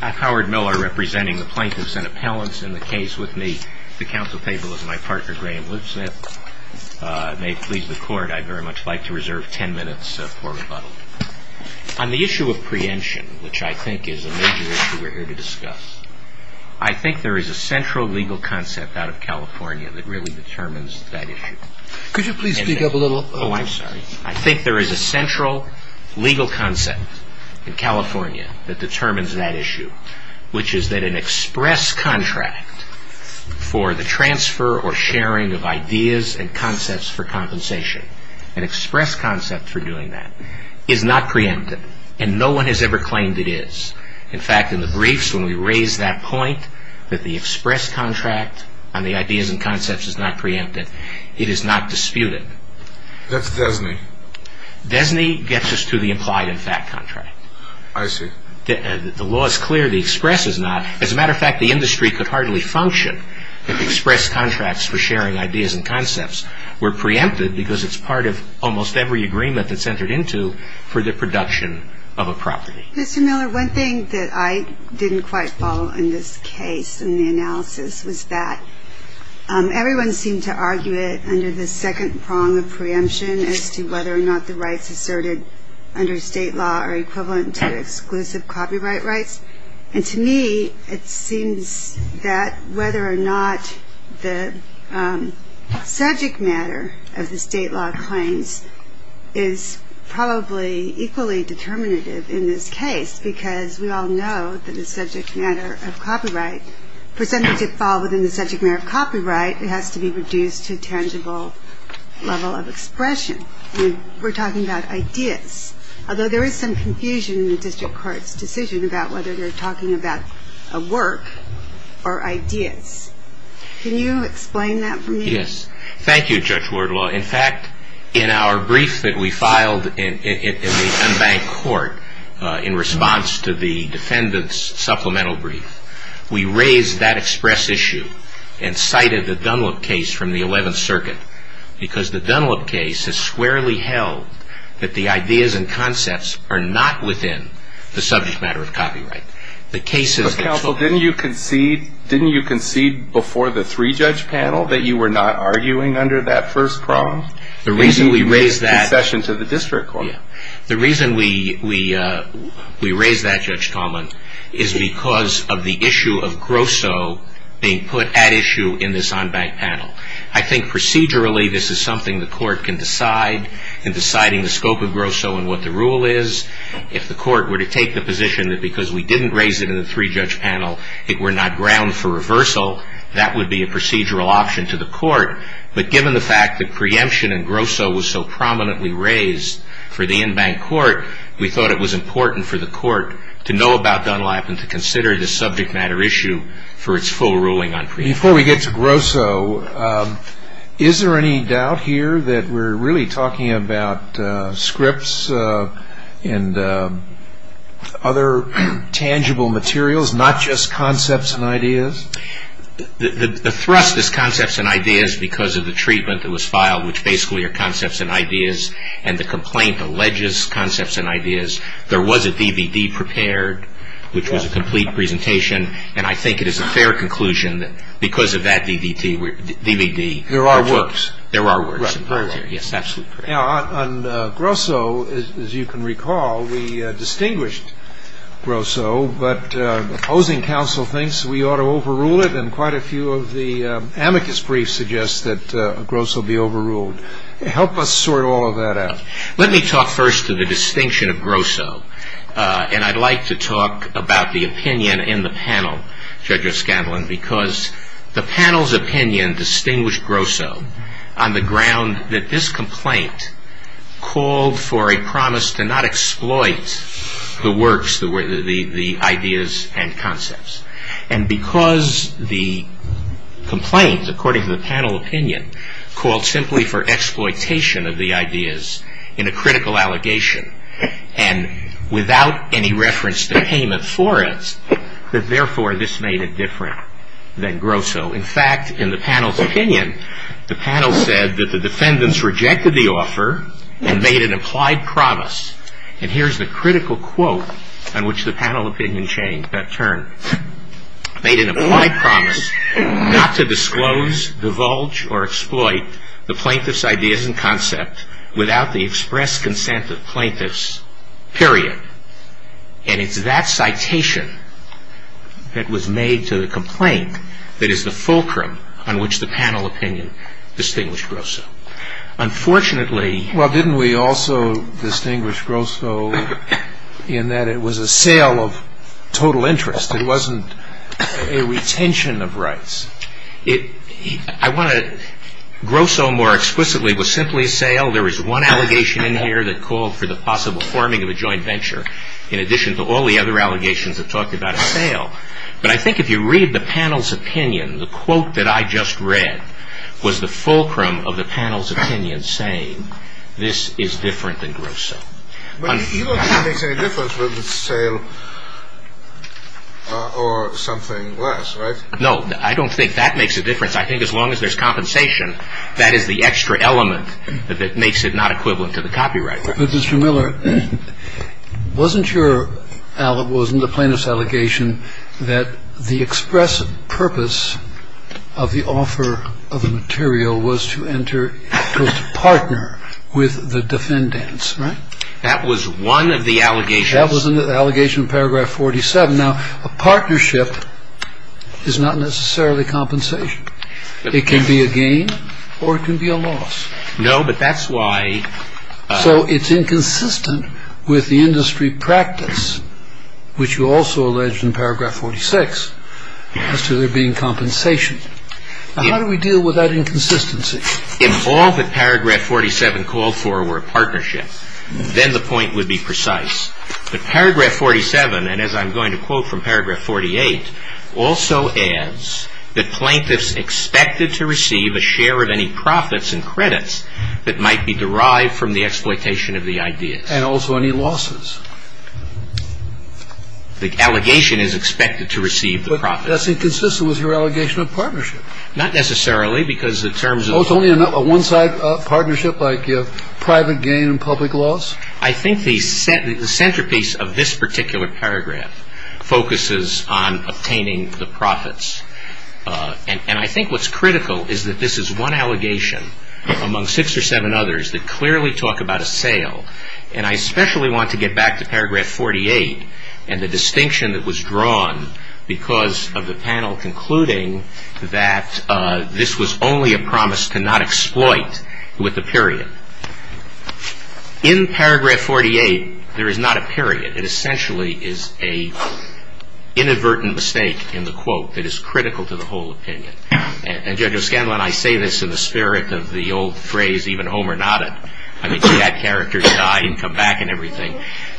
I'm Howard Miller, representing the plaintiffs and appellants in the case with me. The counsel table is my partner, Graham Lipsmith. May it please the court, I'd very much like to reserve ten minutes for rebuttal. On the issue of preemption, which I think is a major issue we're here to discuss, I think there is a central legal concept out of California that really determines that issue. Could you please speak up a little? I think there is a central legal concept in California that determines that issue, which is that an express contract for the transfer or sharing of ideas and concepts for compensation, an express concept for doing that, is not preempted. And no one has ever claimed it is. In fact, in the briefs, when we raise that point, that the express contract on the ideas and concepts is not preempted, it is not disputed. That's DESNY. DESNY gets us to the implied and fact contract. I see. The law is clear, the express is not. As a matter of fact, the industry could hardly function if express contracts for sharing ideas and concepts were preempted, because it's part of almost every agreement that's entered into for the production of a property. Mr. Miller, one thing that I didn't quite follow in this case, in the analysis, was that everyone seemed to argue it under the second prong of preemption as to whether or not the rights asserted under state law are equivalent to exclusive copyright rights. And to me, it seems that whether or not the subject matter of the state law claims is probably equally determinative in this case, because we all know that the subject matter of copyright, for something to fall within the subject matter of copyright, it has to be reduced to a tangible level of expression. We're talking about ideas. Although there is some confusion in the district court's decision about whether they're talking about a work or ideas. Can you explain that for me? Yes. Thank you, Judge Wardlaw. In fact, in our brief that we filed in the unbanked court in response to the defendant's supplemental brief, we raised that express issue and cited the Dunlop case from the 11th Circuit, because the Dunlop case has squarely held that the ideas and concepts are not within the subject matter of copyright. But counsel, didn't you concede before the three-judge panel that you were not arguing under that first prong? The reason we raised that. And you raised concession to the district court. The reason we raised that, Judge Tallman, is because of the issue of Grosso being put at issue in this unbanked panel. I think procedurally this is something the court can decide in deciding the scope of Grosso and what the rule is. If the court were to take the position that because we didn't raise it in the three-judge panel, it were not ground for reversal, that would be a procedural option to the court. But given the fact that preemption in Grosso was so prominently raised for the unbanked court, we thought it was important for the court to know about Dunlop and to consider the subject matter issue for its full ruling on preemption. Before we get to Grosso, is there any doubt here that we're really talking about scripts and other tangible materials, not just concepts and ideas? The thrust is concepts and ideas because of the treatment that was filed, which basically are concepts and ideas. And the complaint alleges concepts and ideas. There was a DVD prepared, which was a complete presentation. And I think it is a fair conclusion that because of that DVD, there are works. There are works. Yes, absolutely. Now, on Grosso, as you can recall, we distinguished Grosso. But the opposing counsel thinks we ought to overrule it, and quite a few of the amicus briefs suggest that Grosso be overruled. Help us sort all of that out. Let me talk first to the distinction of Grosso. And I'd like to talk about the opinion in the panel, Judge O'Scanlan, because the panel's opinion distinguished Grosso on the ground that this complaint called for a promise to not exploit the works, the ideas and concepts. And because the complaint, according to the panel opinion, called simply for exploitation of the ideas in a critical allegation and without any reference to payment for it, that, therefore, this made it different than Grosso. In fact, in the panel's opinion, the panel said that the defendants rejected the offer and made an implied promise. And here's the critical quote on which the panel opinion changed that turn. Made an implied promise not to disclose, divulge, or exploit the plaintiff's ideas and concept without the express consent of plaintiffs, period. And it's that citation that was made to the complaint that is the fulcrum on which the panel opinion distinguished Grosso. Unfortunately- Well, didn't we also distinguish Grosso in that it was a sale of total interest? It wasn't a retention of rights. I want to- Grosso more explicitly was simply a sale. There was one allegation in here that called for the possible forming of a joint venture in addition to all the other allegations that talked about a sale. But I think if you read the panel's opinion, the quote that I just read was the fulcrum of the panel's opinion saying this is different than Grosso. But you don't think it makes any difference whether it's a sale or something less, right? No, I don't think that makes a difference. I think as long as there's compensation, that is the extra element that makes it not equivalent to the copyright. Mr. Miller, wasn't your- wasn't the plaintiff's allegation that the expressive purpose of the offer of the material was to enter- was to partner with the defendants, right? That was one of the allegations- That was an allegation in paragraph 47. Now, a partnership is not necessarily compensation. It can be a gain or it can be a loss. No, but that's why- So it's inconsistent with the industry practice, which you also alleged in paragraph 46, as to there being compensation. How do we deal with that inconsistency? If all that paragraph 47 called for were a partnership, then the point would be precise. But paragraph 47, and as I'm going to quote from paragraph 48, also adds that plaintiffs expected to receive a share of any profits and credits that might be derived from the exploitation of the ideas. And also any losses. The allegation is expected to receive the profits. But that's inconsistent with your allegation of partnership. Not necessarily, because the terms of- Oh, it's only a one-side partnership, like private gain and public loss? I think the centerpiece of this particular paragraph focuses on obtaining the profits. And I think what's critical is that this is one allegation among six or seven others that clearly talk about a sale. And I especially want to get back to paragraph 48 and the distinction that was drawn because of the panel concluding that this was only a promise to not exploit with the period. In paragraph 48, there is not a period. It essentially is an inadvertent mistake in the quote that is critical to the whole opinion. And, Judge O'Scanlan, I say this in the spirit of the old phrase, even Homer nodded. I mean, see that character die and come back and everything.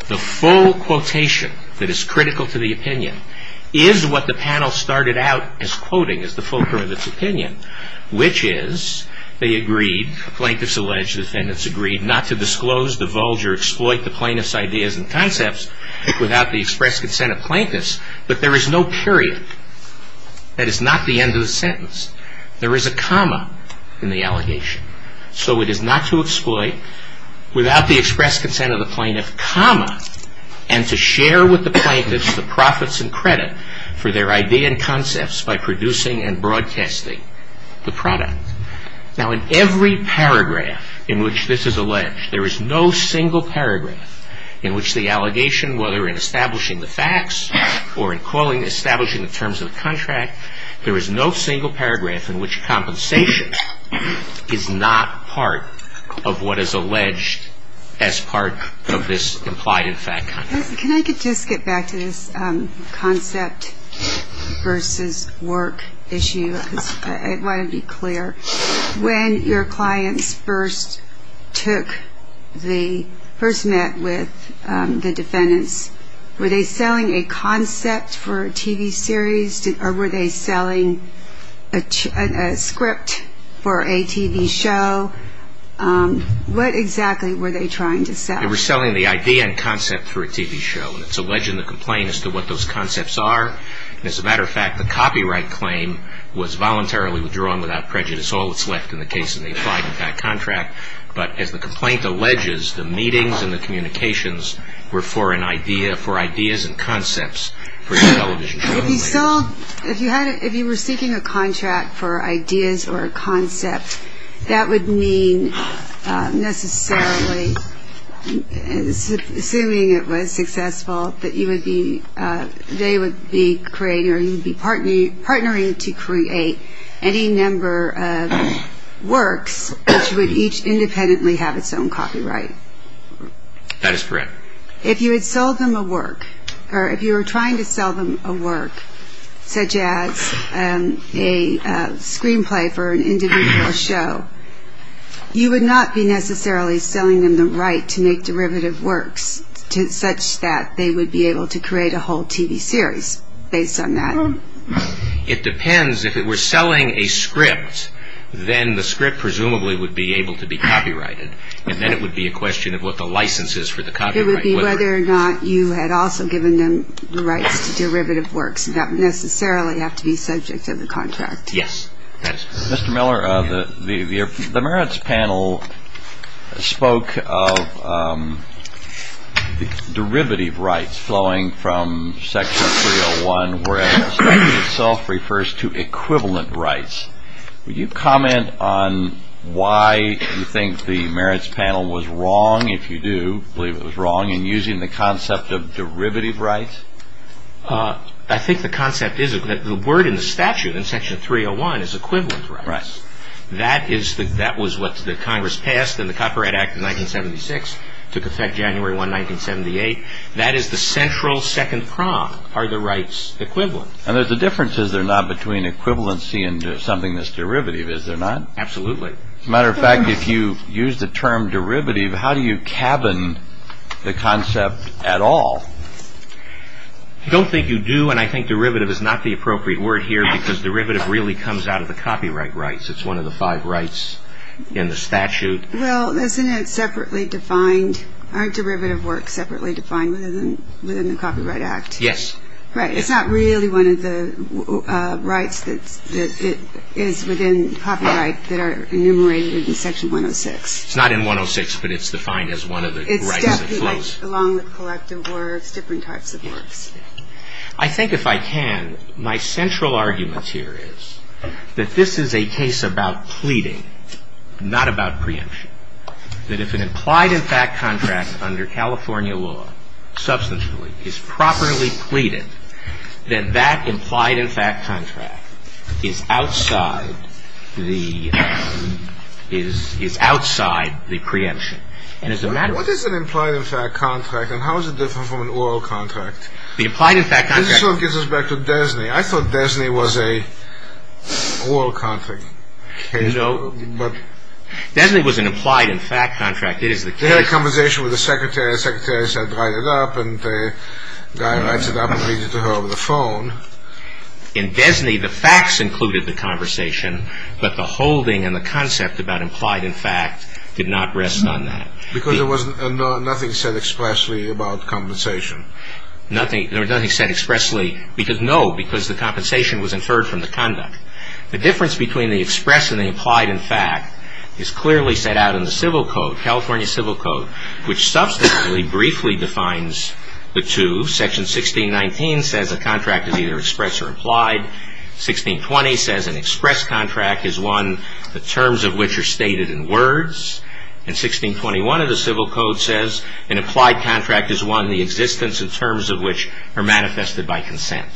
The full quotation that is critical to the opinion is what the panel started out as quoting as the full term of its opinion, which is they agreed, the plaintiffs alleged, the defendants agreed, not to disclose, divulge, or exploit the plaintiff's ideas and concepts without the express consent of plaintiffs. But there is no period. That is not the end of the sentence. There is a comma in the allegation. So it is not to exploit without the express consent of the plaintiff, comma, and to share with the plaintiffs the profits and credit for their idea and concepts by producing and broadcasting the product. Now, in every paragraph in which this is alleged, there is no single paragraph in which the allegation, whether in establishing the facts or in establishing the terms of the contract, there is no single paragraph in which compensation is not part of what is alleged as part of this implied in fact contract. Can I just get back to this concept versus work issue? I want to be clear. When your clients first met with the defendants, were they selling a concept for a TV series or were they selling a script for a TV show? What exactly were they trying to sell? They were selling the idea and concept for a TV show, and it's alleged in the complaint as to what those concepts are. As a matter of fact, the copyright claim was voluntarily withdrawn without prejudice, all that's left in the case of the implied in fact contract. But as the complaint alleges, the meetings and the communications were for ideas and concepts for the television show. If you were seeking a contract for ideas or a concept, that would mean necessarily, assuming it was successful, that you would be, they would be creating or you would be partnering to create any number of works which would each independently have its own copyright. That is correct. If you had sold them a work or if you were trying to sell them a work, such as a screenplay for an individual show, you would not be necessarily selling them the right to make derivative works such that they would be able to create a whole TV series based on that. It depends. If it were selling a script, then the script presumably would be able to be copyrighted, and then it would be a question of what the license is for the copyright. It would be whether or not you had also given them the rights to derivative works that would necessarily have to be subject to the contract. Yes, that is correct. Mr. Miller, the merits panel spoke of derivative rights flowing from Section 301, whereas the statute itself refers to equivalent rights. Would you comment on why you think the merits panel was wrong, if you do believe it was wrong, in using the concept of derivative rights? I think the concept is that the word in the statute in Section 301 is equivalent rights. That was what the Congress passed in the Copyright Act of 1976. It took effect January 1, 1978. That is the central second prong are the rights equivalent. And there is a difference, is there not, between equivalency and something that is derivative, is there not? Absolutely. As a matter of fact, if you use the term derivative, how do you cabin the concept at all? I do not think you do, and I think derivative is not the appropriate word here, because derivative really comes out of the copyright rights. It is one of the five rights in the statute. Well, isn't it separately defined? Aren't derivative works separately defined within the Copyright Act? Yes. Right. It's not really one of the rights that is within copyright that are enumerated in Section 106. It's not in 106, but it's defined as one of the rights that flows. It's definitely along with collective works, different types of works. I think, if I can, my central argument here is that this is a case about pleading, not about preemption, that if an implied and fact contract under California law, substantively, is properly pleaded, then that implied and fact contract is outside the preemption. What is an implied and fact contract, and how is it different from an oral contract? The implied and fact contract… This sort of gets us back to Desney. I thought Desney was an oral contract. No. Desney was an implied and fact contract. They had a conversation with the secretary. The secretary said, write it up, and the guy writes it up and reads it to her over the phone. In Desney, the facts included the conversation, but the holding and the concept about implied and fact did not rest on that. Because there was nothing said expressly about compensation. There was nothing said expressly because, no, because the compensation was inferred from the conduct. The difference between the express and the implied and fact is clearly set out in the Civil Code, California Civil Code, which substantively briefly defines the two. Section 1619 says a contract is either express or implied. 1620 says an express contract is one the terms of which are stated in words. And 1621 of the Civil Code says an applied contract is one the existence of terms of which are manifested by consent.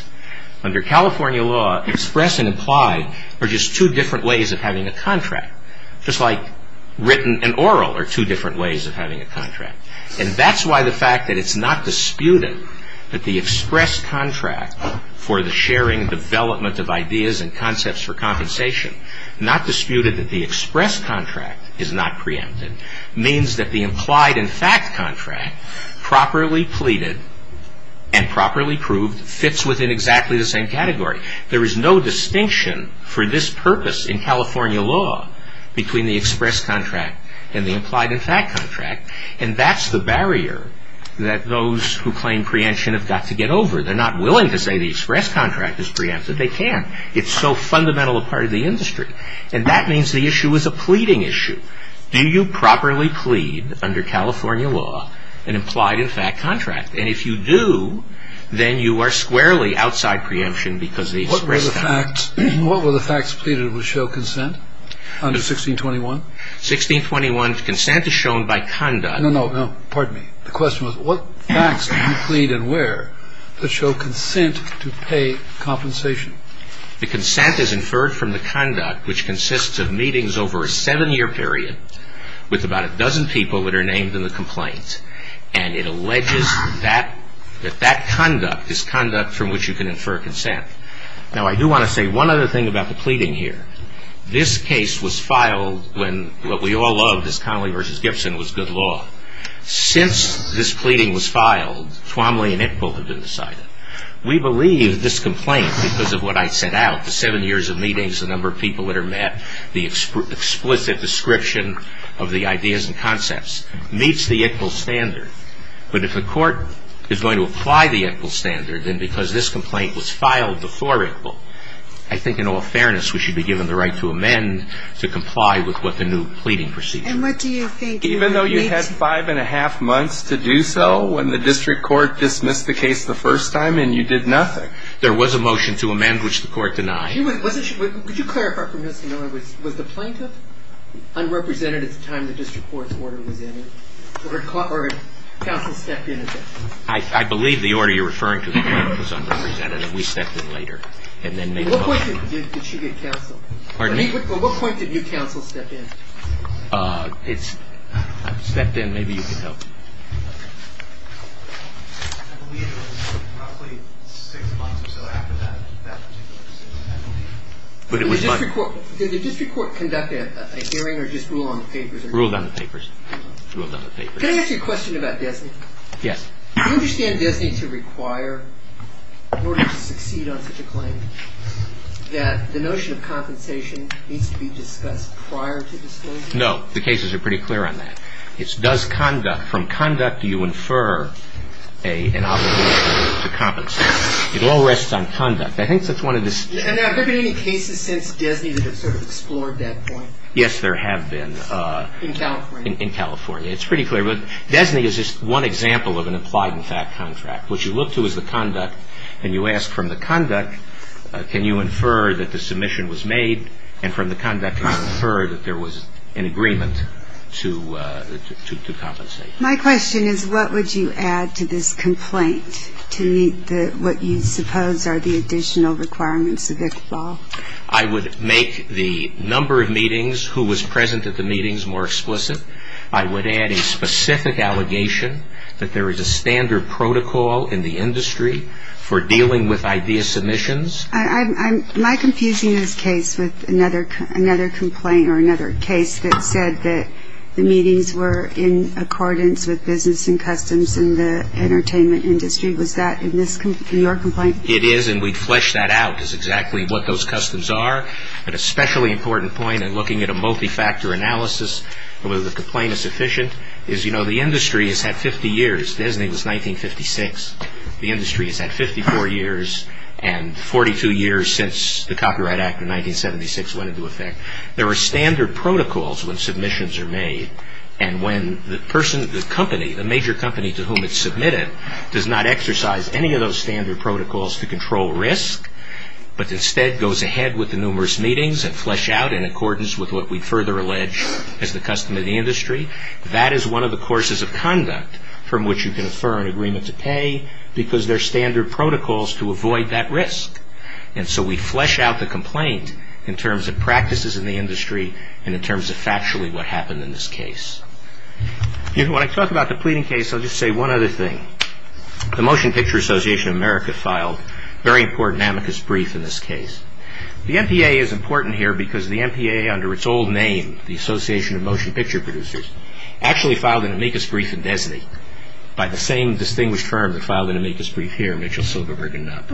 Under California law, express and implied are just two different ways of having a contract. Just like written and oral are two different ways of having a contract. And that's why the fact that it's not disputed that the express contract for the sharing and development of ideas and concepts for compensation, not disputed that the express contract is not preempted, means that the implied and fact contract properly pleaded and properly proved fits within exactly the same category. There is no distinction for this purpose in California law between the express contract and the implied and fact contract. And that's the barrier that those who claim preemption have got to get over. They're not willing to say the express contract is preempted. They can't. It's so fundamental a part of the industry. And that means the issue is a pleading issue. Do you properly plead under California law an implied and fact contract? And if you do, then you are squarely outside preemption because the express contract. What were the facts pleaded which show consent under 1621? 1621's consent is shown by conduct. No, no, no. Pardon me. The question was what facts do you plead and where that show consent to pay compensation? The consent is inferred from the conduct which consists of meetings over a seven-year period with about a dozen people that are named in the complaint. And it alleges that that conduct is conduct from which you can infer consent. Now, I do want to say one other thing about the pleading here. This case was filed when what we all loved as Conley v. Gibson was good law. Since this pleading was filed, Twomley and Iqbal have been decided. We believe this complaint, because of what I set out, the seven years of meetings, the number of people that are met, the explicit description of the ideas and concepts meets the Iqbal standard. But if the court is going to apply the Iqbal standard, then because this complaint was filed before Iqbal, I think in all fairness we should be given the right to amend to comply with what the new pleading procedure is. And what do you think? Even though you had five and a half months to do so when the district court dismissed the case the first time and you did nothing. There was a motion to amend which the court denied. Would you clarify for Mr. Miller, was the plaintiff unrepresented at the time the district court's order was in or counsel stepped in? I believe the order you're referring to was unrepresented and we stepped in later. At what point did she get counsel? Pardon me? At what point did you counsel step in? I stepped in. Maybe you can help. I believe it was roughly six months or so after that particular decision. Did the district court conduct a hearing or just rule on the papers? Rule on the papers. Can I ask you a question about DESNY? Yes. Do you understand DESNY to require in order to succeed on such a claim that the notion of compensation needs to be discussed prior to disclosure? No. The cases are pretty clear on that. It's does conduct. From conduct do you infer an obligation to compensate? It all rests on conduct. I think that's one of the... And have there been any cases since DESNY that have sort of explored that point? Yes, there have been. In California? In California. It's pretty clear. DESNY is just one example of an implied and fact contract. What you look to is the conduct, and you ask from the conduct can you infer that the submission was made, and from the conduct can you infer that there was an agreement to compensate? My question is what would you add to this complaint to meet what you suppose are the additional requirements of ICBAL? I would make the number of meetings, who was present at the meetings, more explicit. I would add a specific allegation that there is a standard protocol in the industry for dealing with idea submissions. Am I confusing this case with another complaint or another case that said that the meetings were in accordance with business and customs in the entertainment industry? Was that in your complaint? It is, and we fleshed that out, is exactly what those customs are. An especially important point in looking at a multi-factor analysis of whether the complaint is sufficient is, you know, the industry has had 50 years. DESNY was 1956. The industry has had 54 years and 42 years since the Copyright Act of 1976 went into effect. There are standard protocols when submissions are made, and when the person, the company, the major company to whom it's submitted, does not exercise any of those standard protocols to control risk, but instead goes ahead with the numerous meetings and flesh out in accordance with what we further allege is the custom of the industry, that is one of the courses of conduct from which you can infer an agreement to pay because there are standard protocols to avoid that risk. And so we flesh out the complaint in terms of practices in the industry and in terms of factually what happened in this case. You know, when I talk about the pleading case, I'll just say one other thing. The Motion Picture Association of America filed a very important amicus brief in this case. The MPA is important here because the MPA under its old name, the Association of Motion Picture Producers, actually filed an amicus brief in DESNY by the same distinguished firm that filed an amicus brief here, Mitchell, Silverberg, and Knapp.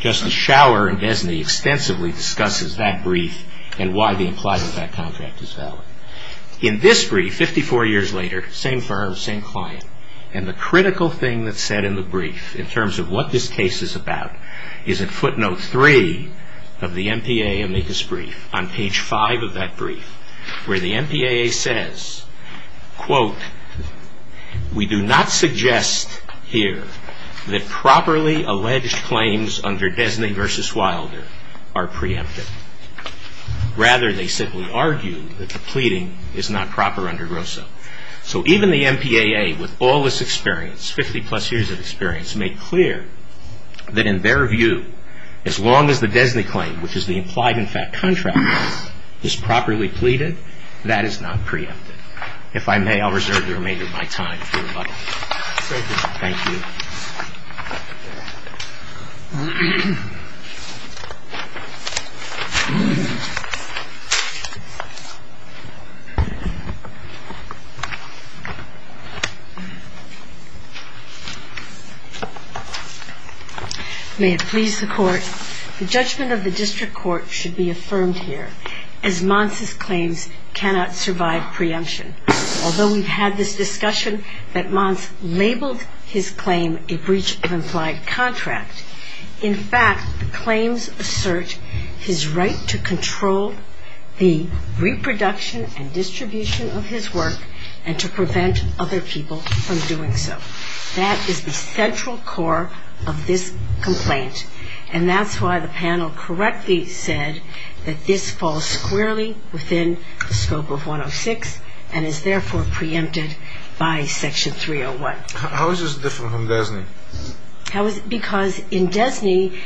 Justice Schauer in DESNY extensively discusses that brief and why the implied effect contract is valid. In this brief, 54 years later, same firm, same client, and the critical thing that's said in the brief in terms of what this case is about is in footnote 3 of the MPA amicus brief, on page 5 of that brief, where the MPAA says, quote, We do not suggest here that properly alleged claims under DESNY v. Wilder are preemptive. Rather, they simply argue that the pleading is not proper under ROSA. So even the MPAA, with all this experience, 50-plus years of experience, made clear that in their view, as long as the DESNY claim, which is the implied effect contract, is properly pleaded, that is not preemptive. If I may, I'll reserve the remainder of my time for rebuttal. Thank you. May it please the Court, the judgment of the district court should be affirmed here as Mons' claims cannot survive preemption. Although we've had this discussion that Mons labeled his claim a breach of implied contract, in fact, the claims assert his right to control the reproduction and distribution of his work and to prevent other people from doing so. That is the central core of this complaint. And that's why the panel correctly said that this falls squarely within the scope of 106 and is therefore preempted by Section 301. How is this different from DESNY? Because in DESNY,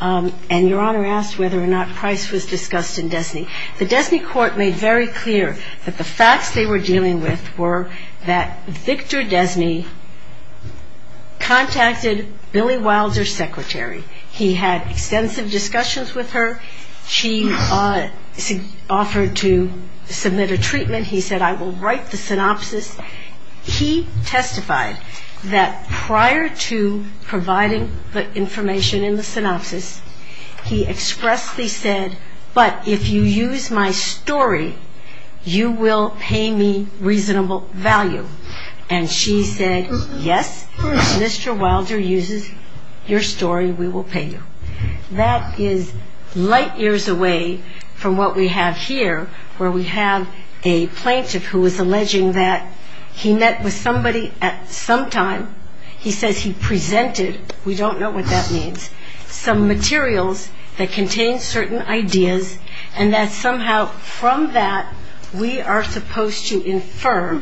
and Your Honor asked whether or not Price was discussed in DESNY, the DESNY court made very clear that the facts they were dealing with were that Victor DESNY contacted Billy Wilder's secretary. He had extensive discussions with her. She offered to submit a treatment. He said, I will write the synopsis. He testified that prior to providing the information in the synopsis, he expressly said, but if you use my story, you will pay me reasonable value. And she said, yes, if Mr. Wilder uses your story, we will pay you. That is light years away from what we have here where we have a plaintiff who is alleging that he met with somebody at some time. He says he presented. We don't know what that means, some materials that contain certain ideas and that somehow from that we are supposed to infirm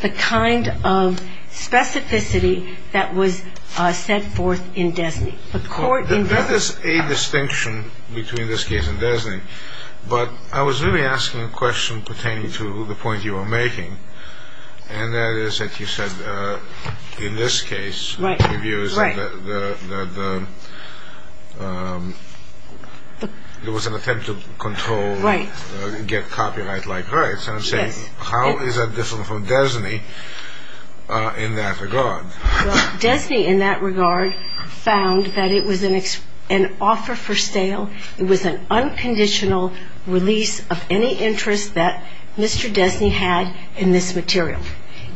the kind of specificity that was set forth in DESNY, the court in DESNY. There is a distinction between this case and DESNY, but I was really asking a question pertaining to the point you were making, and that is that you said in this case, it was an attempt to control, get copyright-like rights. How is that different from DESNY in that regard? DESNY in that regard found that it was an offer for sale. It was an unconditional release of any interest that Mr. DESNY had in this material.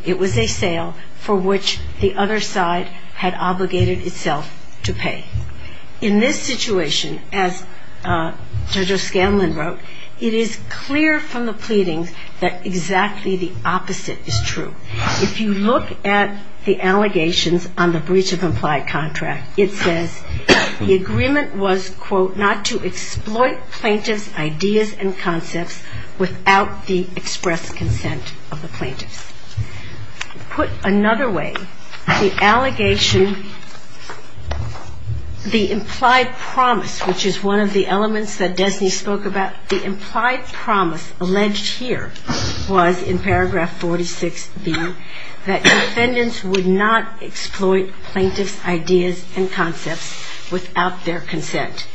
It was a sale for which the other side had obligated itself to pay. In this situation, as Judge O'Scanlon wrote, it is clear from the pleadings that exactly the opposite is true. If you look at the allegations on the breach of implied contract, it says the agreement was, quote, not to exploit plaintiff's ideas and concepts without the expressed consent of the plaintiffs. Put another way, the allegation, the implied promise, which is one of the elements that DESNY spoke about, the implied promise alleged here was in paragraph 46B that defendants would not exploit plaintiff's ideas and concepts without their consent.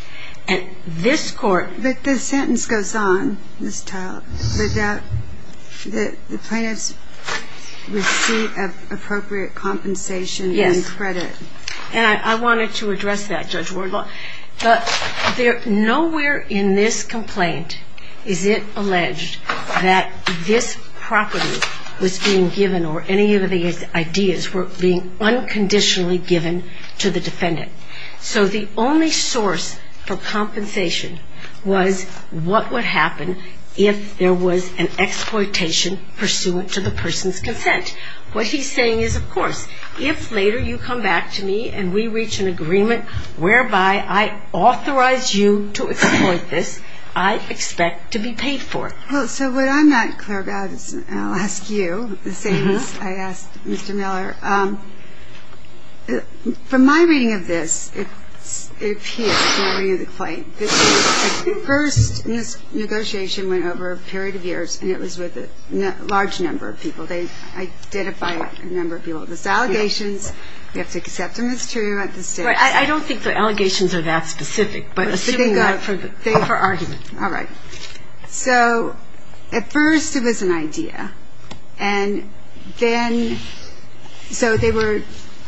And this Court… But the sentence goes on, Ms. Todd, that the plaintiffs receive appropriate compensation and credit. Yes, and I wanted to address that, Judge Wardlaw. But nowhere in this complaint is it alleged that this property was being given or any of these ideas were being unconditionally given to the defendant. So the only source for compensation was what would happen if there was an exploitation pursuant to the person's consent. What he's saying is, of course, if later you come back to me and we reach an agreement whereby I authorize you to exploit this, I expect to be paid for it. Well, so what I'm not clear about, and I'll ask you the same as I asked Mr. Miller, from my reading of this, if he is to review the claim, this was the first in this negotiation went over a period of years and it was with a large number of people. They identified a number of people. There's allegations. You have to accept them as true. I don't think the allegations are that specific. Thank you for arguing. All right. So at first it was an idea, and then so they were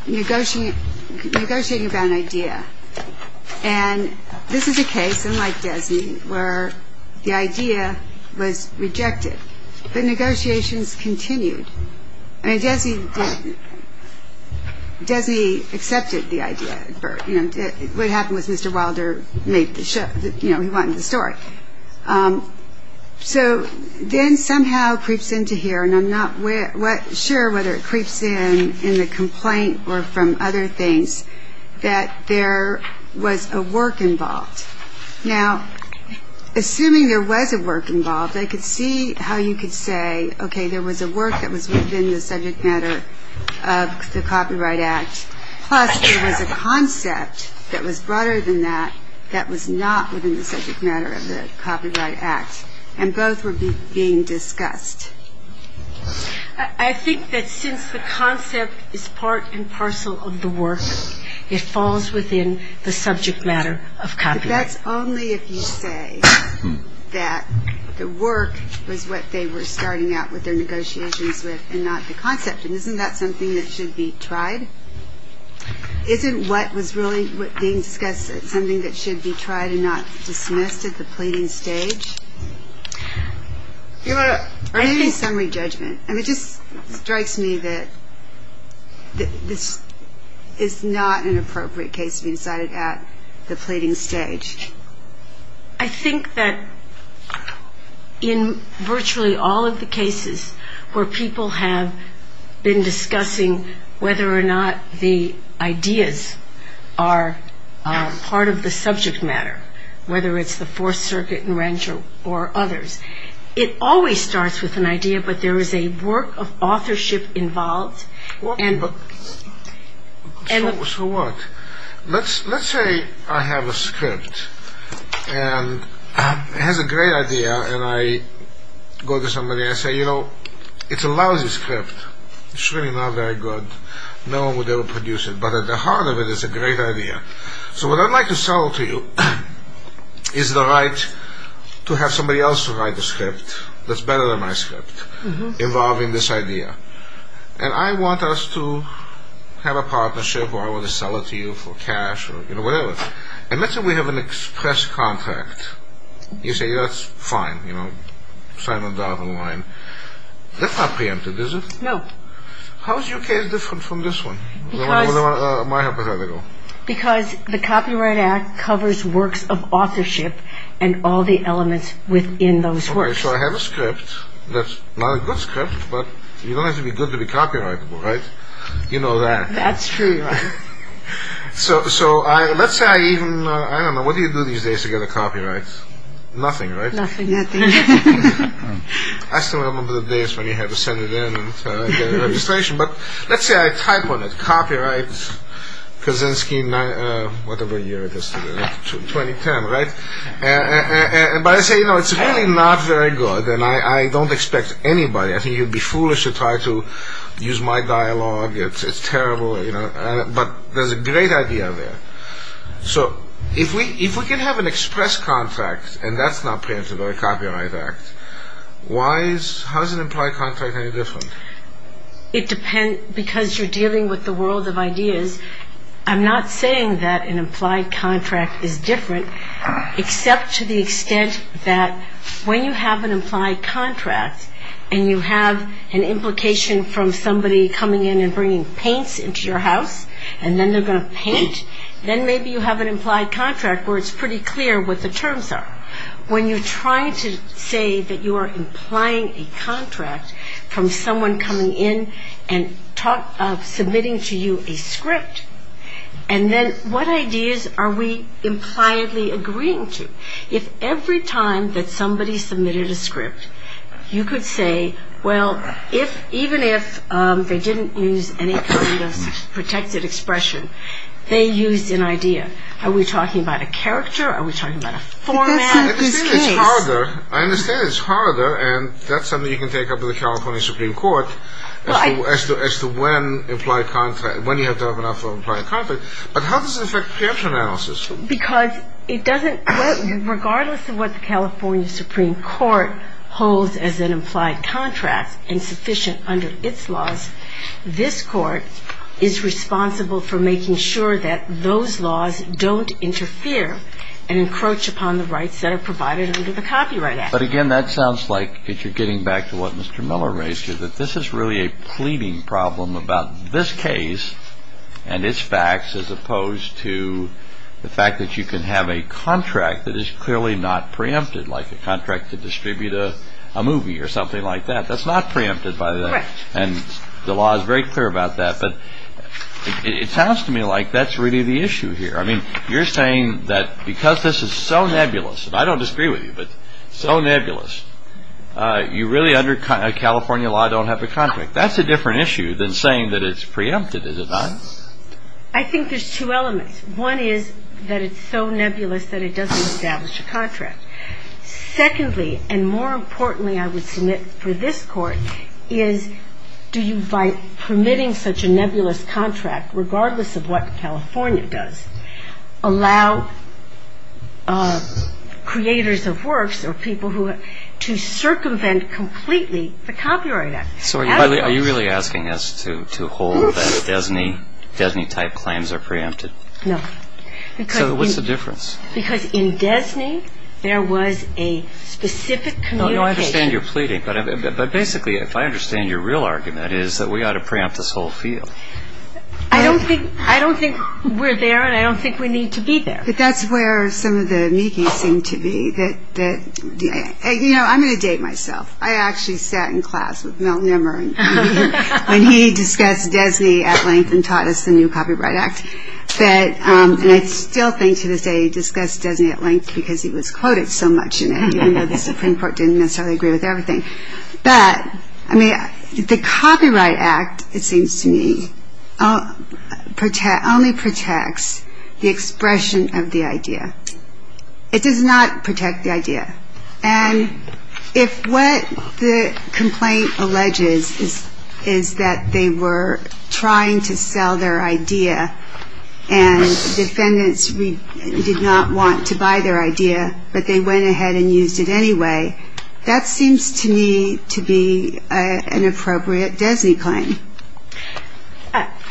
negotiating about an idea. And this is a case, unlike Desney, where the idea was rejected, but negotiations continued. I mean, Desney accepted the idea. What happened was Mr. Wilder made the show. He wanted the story. So then somehow creeps into here, and I'm not sure whether it creeps in in the complaint or from other things, that there was a work involved. Now, assuming there was a work involved, I could see how you could say, okay, there was a work that was within the subject matter of the Copyright Act, plus there was a concept that was broader than that that was not within the subject matter of the Copyright Act, and both were being discussed. I think that since the concept is part and parcel of the work, it falls within the subject matter of Copyright Act. That's only if you say that the work was what they were starting out with their negotiations with and not the concept. And isn't that something that should be tried? Isn't what was really being discussed something that should be tried and not dismissed at the pleading stage? Or maybe summary judgment. I mean, it just strikes me that this is not an appropriate case to be decided at the pleading stage. I think that in virtually all of the cases where people have been discussing whether or not the ideas are part of the subject matter, whether it's the Fourth Circuit and Rancher or others, it always starts with an idea, but there is a work of authorship involved. So what? Let's say I have a script and it has a great idea, and I go to somebody and say, you know, it's a lousy script. It's really not very good. No one would ever produce it, but at the heart of it, it's a great idea. So what I'd like to sell to you is the right to have somebody else write the script that's better than my script involving this idea. And I want us to have a partnership or I want to sell it to you for cash or whatever. And let's say we have an express contract. You say, that's fine. You know, sign the dotted line. That's not preempted, is it? No. How is your case different from this one, my hypothetical? Because the Copyright Act covers works of authorship and all the elements within those works. Okay, so I have a script that's not a good script, but you don't have to be good to be copyrightable, right? You know that. That's true. So let's say I even, I don't know, what do you do these days to get a copyright? Nothing, right? Nothing, nothing. I still remember the days when you had to send it in and get a registration. But let's say I type on it, copyright Kaczynski, whatever year it is today, 2010, right? But I say, you know, it's really not very good and I don't expect anybody, I think you'd be foolish to try to use my dialogue, it's terrible, you know. But there's a great idea there. So if we can have an express contract and that's not printed or a copyright act, why is, how is an implied contract any different? It depends, because you're dealing with the world of ideas. I'm not saying that an implied contract is different except to the extent that when you have an implied contract and you have an implication from somebody coming in and bringing paints into your house and then they're going to paint, then maybe you have an implied contract where it's pretty clear what the terms are. When you try to say that you are implying a contract from someone coming in and submitting to you a script, and then what ideas are we impliedly agreeing to? If every time that somebody submitted a script, you could say, well, even if they didn't use any kind of protected expression, they used an idea. Are we talking about a character? Are we talking about a format? I understand it's harder, and that's something you can take up with the California Supreme Court as to when you have to have enough of an implied contract. But how does it affect preemption analysis? Because it doesn't, regardless of what the California Supreme Court holds as an implied contract and sufficient under its laws, this court is responsible for making sure that those laws don't interfere and encroach upon the rights that are provided under the Copyright Act. But again, that sounds like, if you're getting back to what Mr. Miller raised here, that this is really a pleading problem about this case and its facts as opposed to the fact that you can have a contract that is clearly not preempted, like a contract to distribute a movie or something like that. That's not preempted by that. And the law is very clear about that. But it sounds to me like that's really the issue here. I mean, you're saying that because this is so nebulous, and I don't disagree with you, but so nebulous, you really under California law don't have a contract. That's a different issue than saying that it's preempted, is it not? I think there's two elements. One is that it's so nebulous that it doesn't establish a contract. Secondly, and more importantly I would submit for this Court, is do you, by permitting such a nebulous contract, regardless of what California does, allow creators of works or people to circumvent completely the Copyright Act? So are you really asking us to hold that DESNY-type claims are preempted? No. So what's the difference? Because in DESNY there was a specific communication... But basically, if I understand your real argument, is that we ought to preempt this whole field. I don't think we're there, and I don't think we need to be there. But that's where some of the amici seem to be. You know, I'm going to date myself. I actually sat in class with Mel Nimmer when he discussed DESNY at length and taught us the new Copyright Act. And I still think to this day he discussed DESNY at length because he was quoted so much in it, even though the Supreme Court didn't necessarily agree with everything. But the Copyright Act, it seems to me, only protects the expression of the idea. It does not protect the idea. And if what the complaint alleges is that they were trying to sell their idea and defendants did not want to buy their idea, but they went ahead and used it anyway, that seems to me to be an appropriate DESNY claim.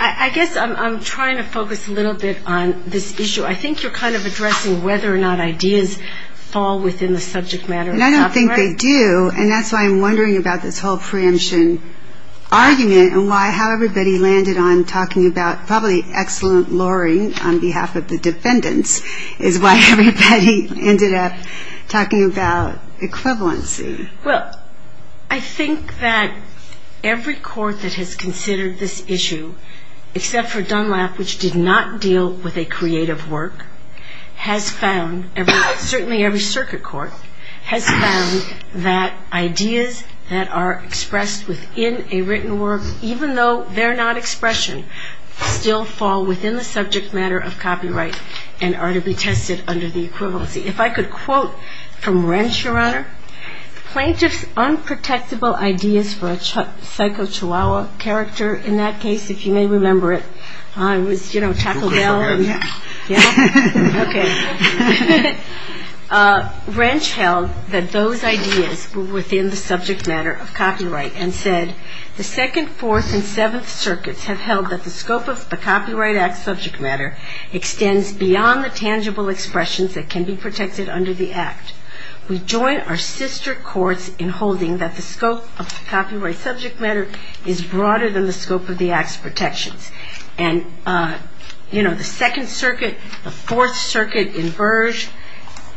I guess I'm trying to focus a little bit on this issue. I think you're kind of addressing whether or not ideas fall within the subject matter of copyright. And I don't think they do, and that's why I'm wondering about this whole preemption argument and how everybody landed on talking about probably excellent luring on behalf of the defendants is why everybody ended up talking about equivalency. Well, I think that every court that has considered this issue, except for Dunlap, which did not deal with a creative work, has found, certainly every circuit court, has found that ideas that are expressed within a written work, even though they're not expression, still fall within the subject matter of copyright and are to be tested under the equivalency. If I could quote from Wrench, Your Honor, plaintiff's unprotectable ideas for a psycho chihuahua character, in that case, if you may remember it, it was, you know, Taco Bell. Okay. Wrench held that those ideas were within the subject matter of copyright and said, the Second, Fourth, and Seventh Circuits have held that the scope of the Copyright Act subject matter extends beyond the tangible expressions that can be protected under the Act. We join our sister courts in holding that the scope of the copyright subject matter is broader than the scope of the Act's protections. And, you know, the Second Circuit, the Fourth Circuit in Burge,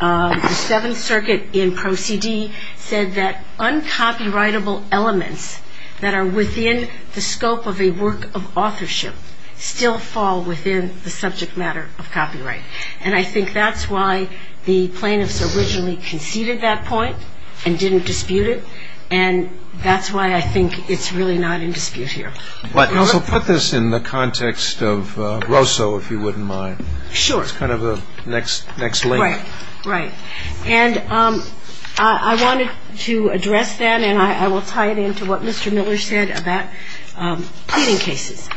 the Seventh Circuit in Proceedee said that uncopyrightable elements that are within the scope of a work of authorship still fall within the subject matter of copyright. And I think that's why the plaintiffs originally conceded that point and didn't dispute it, and that's why I think it's really not in dispute here. But also put this in the context of Grosso, if you wouldn't mind. Sure. It's kind of the next link. Right, right. And I wanted to address that, and I will tie it into what Mr. Miller said about pleading cases,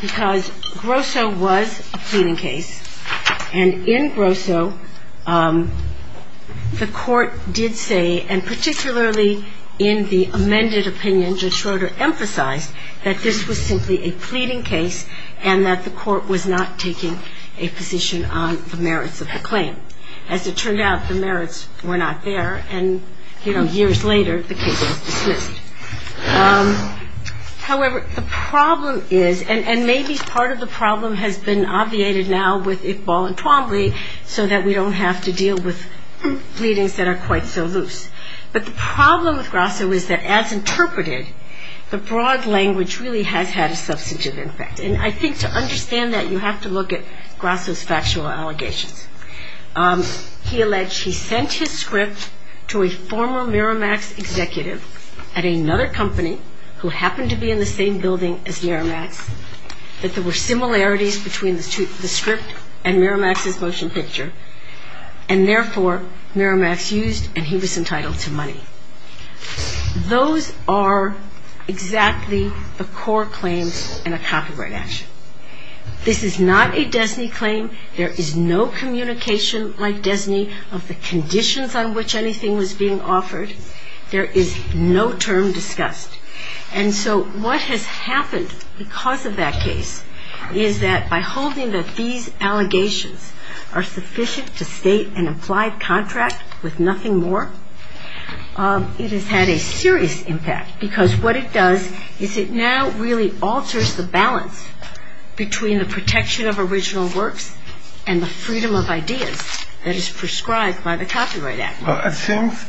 because Grosso was a pleading case, and in Grosso the court did say, and particularly in the amended opinion Judge Schroeder emphasized, that this was simply a pleading case and that the court was not taking a position on the merits of the claim. As it turned out, the merits were not there, and, you know, years later the case was dismissed. However, the problem is, and maybe part of the problem has been obviated now with Iqbal and Twombly, so that we don't have to deal with pleadings that are quite so loose. But the problem with Grosso is that, as interpreted, the broad language really has had a substantive impact. And I think to understand that, you have to look at Grosso's factual allegations. He alleged he sent his script to a former Miramax executive at another company who happened to be in the same building as Miramax, that there were similarities between the script and Miramax's motion picture, and therefore Miramax used and he was entitled to money. Those are exactly the core claims in a copyright action. This is not a DESNY claim. There is no communication like DESNY of the conditions on which anything was being offered. There is no term discussed. And so what has happened because of that case is that by holding that these allegations are sufficient to state an implied contract with nothing more, it has had a serious impact, because what it does is it now really alters the balance between the protection of original works and the freedom of ideas that is prescribed by the Copyright Act. Well, it seems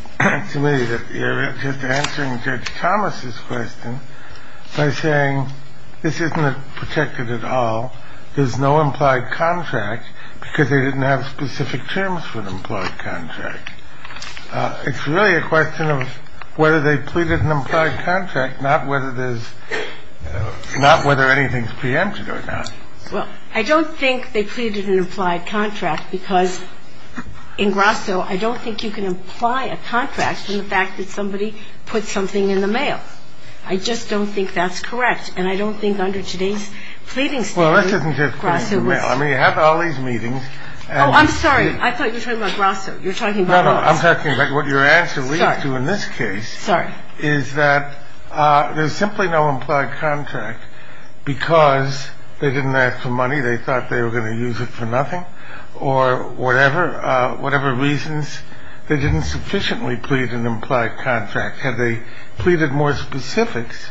to me that you're just answering Judge Thomas's question by saying this isn't protected at all. There's no implied contract because they didn't have specific terms for the implied contract. It's really a question of whether they pleaded an implied contract, not whether there's – not whether anything's preempted or not. Well, I don't think they pleaded an implied contract because in Grosso I don't think you can imply a contract from the fact that somebody put something in the mail. I just don't think that's correct. And I don't think under today's pleading statute Grosso was – Well, this isn't just putting it in the mail. I mean, you have all these meetings and – Oh, I'm sorry. I thought you were talking about Grosso. You're talking about – No, no. I'm talking about what your answer leads to in this case – Sorry. Sorry. – is that there's simply no implied contract because they didn't ask for money, they thought they were going to use it for nothing, if they didn't plead an implied contract, then there wouldn't be an implied contract, or whatever – whatever reasons, they didn't sufficiently plead an implied contract. Had they pleaded more specifics,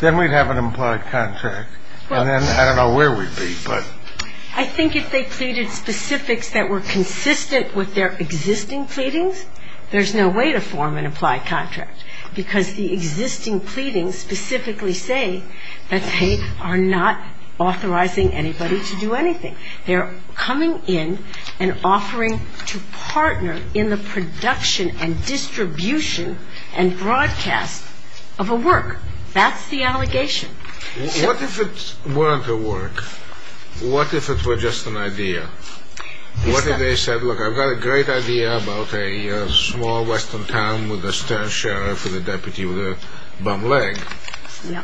then we'd have an implied contract. And then – Well – I don't know where we'd be, but – I think if they pleaded specifics that were consistent with their existing pleadings, there's no way to form an implied contract, because the existing pleadings specifically say that they are not authorizing anybody to do anything. They're coming in and offering to partner in the production and distribution and broadcast of a work. That's the allegation. What if it weren't a work? What if it were just an idea? What if they said, look, I've got a great idea about a small western town with a stern sheriff and a deputy with a bum leg, and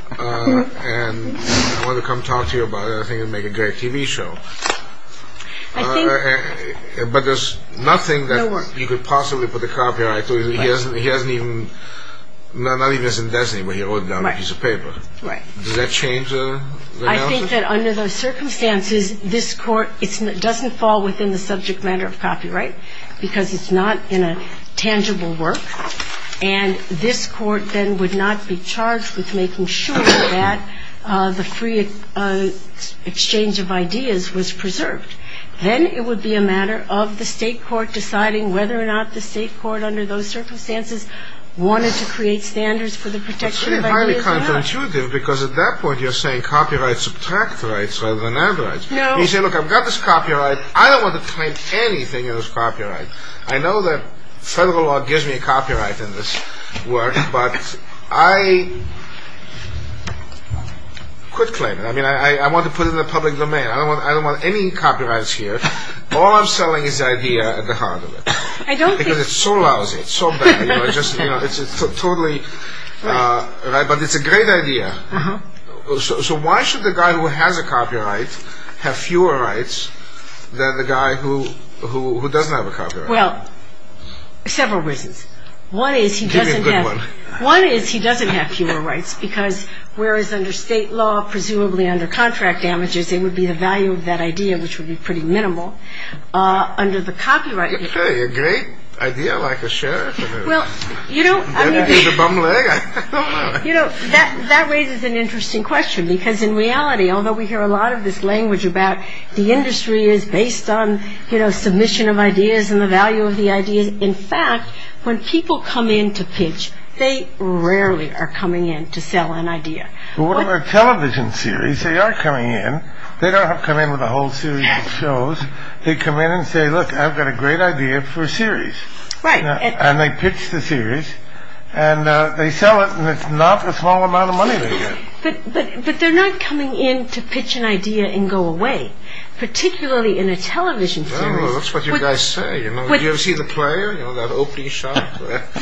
I want to come talk to you about it, and I think it would make a great TV show. I think – But there's nothing that you could possibly put a copyright to. He hasn't even – Right. Does that change the analysis? I think that under those circumstances, this Court doesn't fall within the subject matter of copyright, because it's not in a tangible work, and this Court then would not be charged with making sure that the free exchange of ideas was preserved. Then it would be a matter of the state court deciding whether or not the state court, under those circumstances, wanted to create standards for the protection of ideas. It's really highly counterintuitive, because at that point you're saying copyrights subtract rights rather than add rights. No. You say, look, I've got this copyright. I don't want to claim anything of this copyright. I know that federal law gives me a copyright in this work, but I could claim it. I mean, I want to put it in the public domain. I don't want any copyrights here. All I'm selling is the idea at the heart of it. I don't think – Because it's so lousy. It's so bad. It's totally – but it's a great idea. So why should the guy who has a copyright have fewer rights than the guy who doesn't have a copyright? Well, several reasons. One is he doesn't have – Give me a good one. One is he doesn't have fewer rights, because whereas under state law, presumably under contract damages, it would be the value of that idea, which would be pretty minimal, under the copyright – It's really a great idea, like a sheriff. Well, you know – Better than the bum leg. You know, that raises an interesting question, because in reality, although we hear a lot of this language about the industry is based on, you know, submission of ideas and the value of the ideas, in fact, when people come in to pitch, they rarely are coming in to sell an idea. But what about television series? They are coming in. They don't come in with a whole series of shows. They come in and say, look, I've got a great idea for a series. Right. And they pitch the series, and they sell it, and it's not a small amount of money they get. But they're not coming in to pitch an idea and go away, particularly in a television series. Well, that's what you guys say, you know. Did you ever see The Player, you know, that opening shot?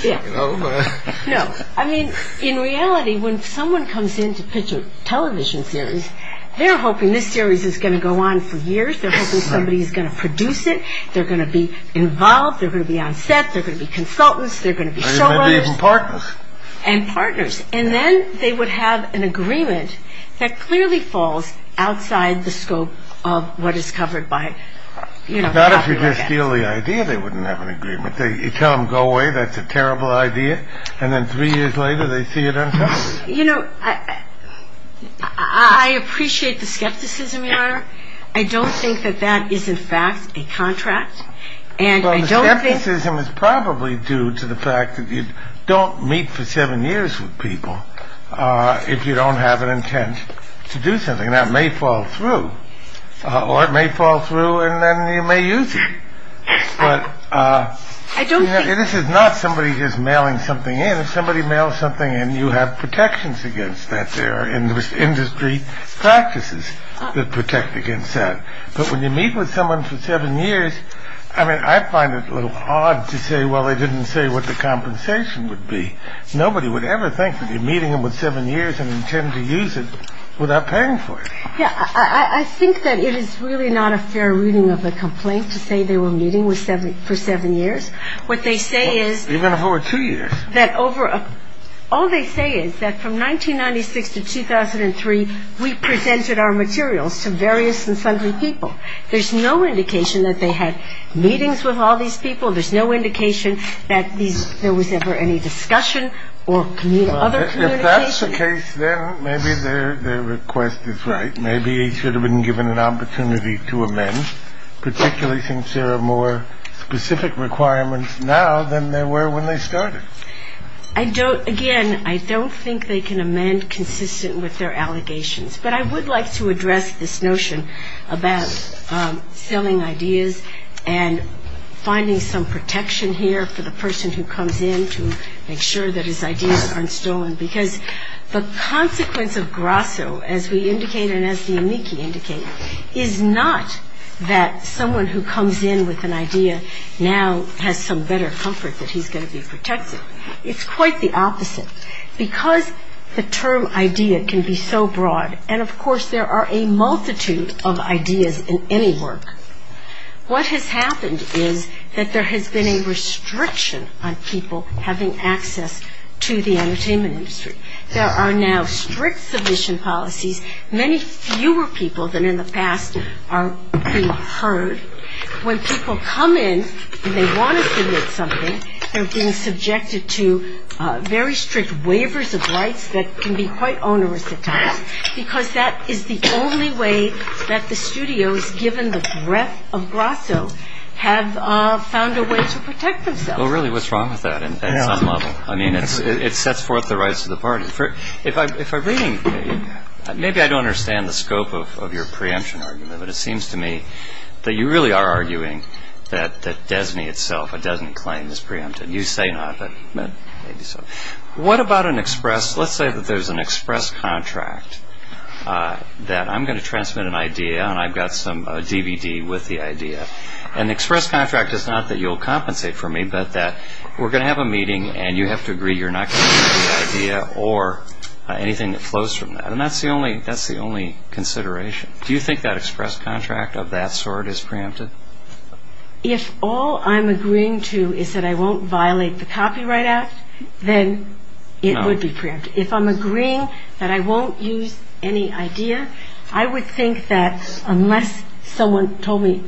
Yeah. You know, but – No. I mean, in reality, when someone comes in to pitch a television series, they're hoping this series is going to go on for years. They're hoping somebody is going to produce it. They're going to be involved. They're going to be on set. They're going to be consultants. They're going to be showrunners. Maybe even partners. And partners. And then they would have an agreement that clearly falls outside the scope of what is covered by, you know – Not if you just steal the idea they wouldn't have an agreement. You tell them, go away, that's a terrible idea. And then three years later, they see it on television. You know, I appreciate the skepticism, Your Honor. I don't think that that is, in fact, a contract. And I don't think – Well, the skepticism is probably due to the fact that you don't meet for seven years with people if you don't have an intent to do something. And that may fall through. Or it may fall through and then you may use it. But – I don't think – This is not somebody just mailing something in. If somebody mails something in, you have protections against that there. And there's industry practices that protect against that. But when you meet with someone for seven years – I mean, I find it a little odd to say, well, they didn't say what the compensation would be. Nobody would ever think that you're meeting them with seven years and intend to use it without paying for it. Yeah. I think that it is really not a fair reading of the complaint to say they were meeting for seven years. What they say is – Even if it were two years. All they say is that from 1996 to 2003, we presented our materials to various and sundry people. There's no indication that they had meetings with all these people. There's no indication that there was ever any discussion or other communication. Well, if that's the case, then maybe their request is right. Maybe he should have been given an opportunity to amend, particularly since there are more specific requirements now than there were when they started. Again, I don't think they can amend consistent with their allegations. But I would like to address this notion about selling ideas and finding some protection here for the person who comes in to make sure that his ideas aren't stolen. Because the consequence of grasso, as we indicate and as the amici indicate, is not that someone who comes in with an idea now has some better comfort that he's going to be protected. It's quite the opposite. Because the term idea can be so broad, and of course there are a multitude of ideas in any work, what has happened is that there has been a restriction on people having access to the entertainment industry. There are now strict submission policies. Many fewer people than in the past are being heard. When people come in and they want to submit something, they're being subjected to very strict waivers of rights that can be quite onerous at times. Because that is the only way that the studios, given the breadth of grasso, have found a way to protect themselves. Well, really, what's wrong with that at some level? I mean, it sets forth the rights of the party. If I'm reading, maybe I don't understand the scope of your preemption argument, but it seems to me that you really are arguing that DESNY itself doesn't claim this preemption. You say not, but maybe so. What about an express, let's say that there's an express contract that I'm going to transmit an idea, and I've got some DVD with the idea. An express contract is not that you'll compensate for me, but that we're going to have a meeting and you have to agree you're not going to use the idea or anything that flows from that. And that's the only consideration. Do you think that express contract of that sort is preempted? If all I'm agreeing to is that I won't violate the Copyright Act, then it would be preempted. If I'm agreeing that I won't use any idea, I would think that unless someone told me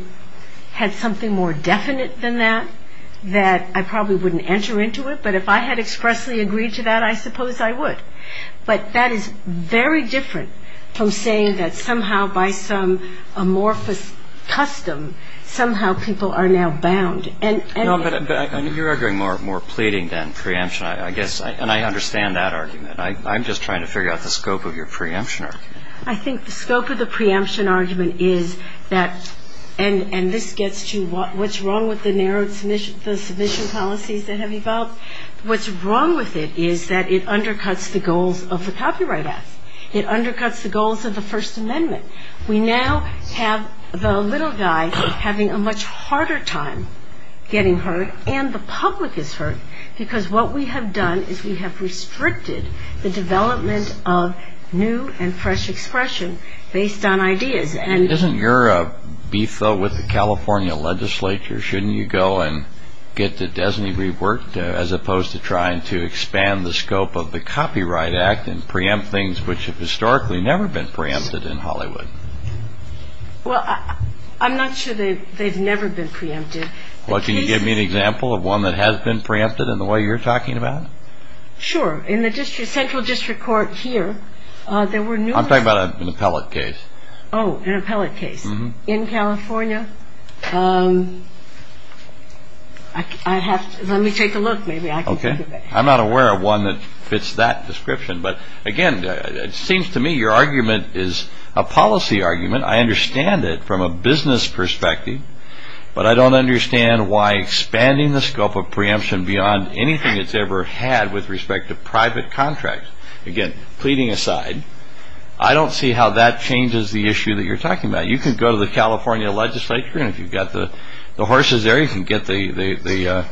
had something more definite than that, that I probably wouldn't enter into it. But if I had expressly agreed to that, I suppose I would. But that is very different from saying that somehow by some amorphous custom, somehow people are now bound. And anyway. No, but you're arguing more pleading than preemption, I guess. And I understand that argument. I'm just trying to figure out the scope of your preemption argument. I think the scope of the preemption argument is that, and this gets to what's wrong with the narrowed submission policies that have evolved. What's wrong with it is that it undercuts the goals of the Copyright Act. It undercuts the goals of the First Amendment. We now have the little guy having a much harder time getting hurt and the public is hurt because what we have done is we have restricted the development of new and fresh expression based on ideas. Isn't your beef, though, with the California legislature? Shouldn't you go and get the designee reworked as opposed to trying to expand the scope of the Copyright Act and preempt things which have historically never been preempted in Hollywood? Well, I'm not sure that they've never been preempted. Well, can you give me an example of one that has been preempted in the way you're talking about? Sure. In the central district court here, there were numerous. I'm talking about an appellate case. Oh, an appellate case in California. Let me take a look. Maybe I can think of it. Okay. I'm not aware of one that fits that description. But, again, it seems to me your argument is a policy argument. I understand it from a business perspective, but I don't understand why expanding the scope of preemption beyond anything it's ever had with respect to private contracts. Again, pleading aside, I don't see how that changes the issue that you're talking about. You can go to the California legislature, and if you've got the horses there, you can get the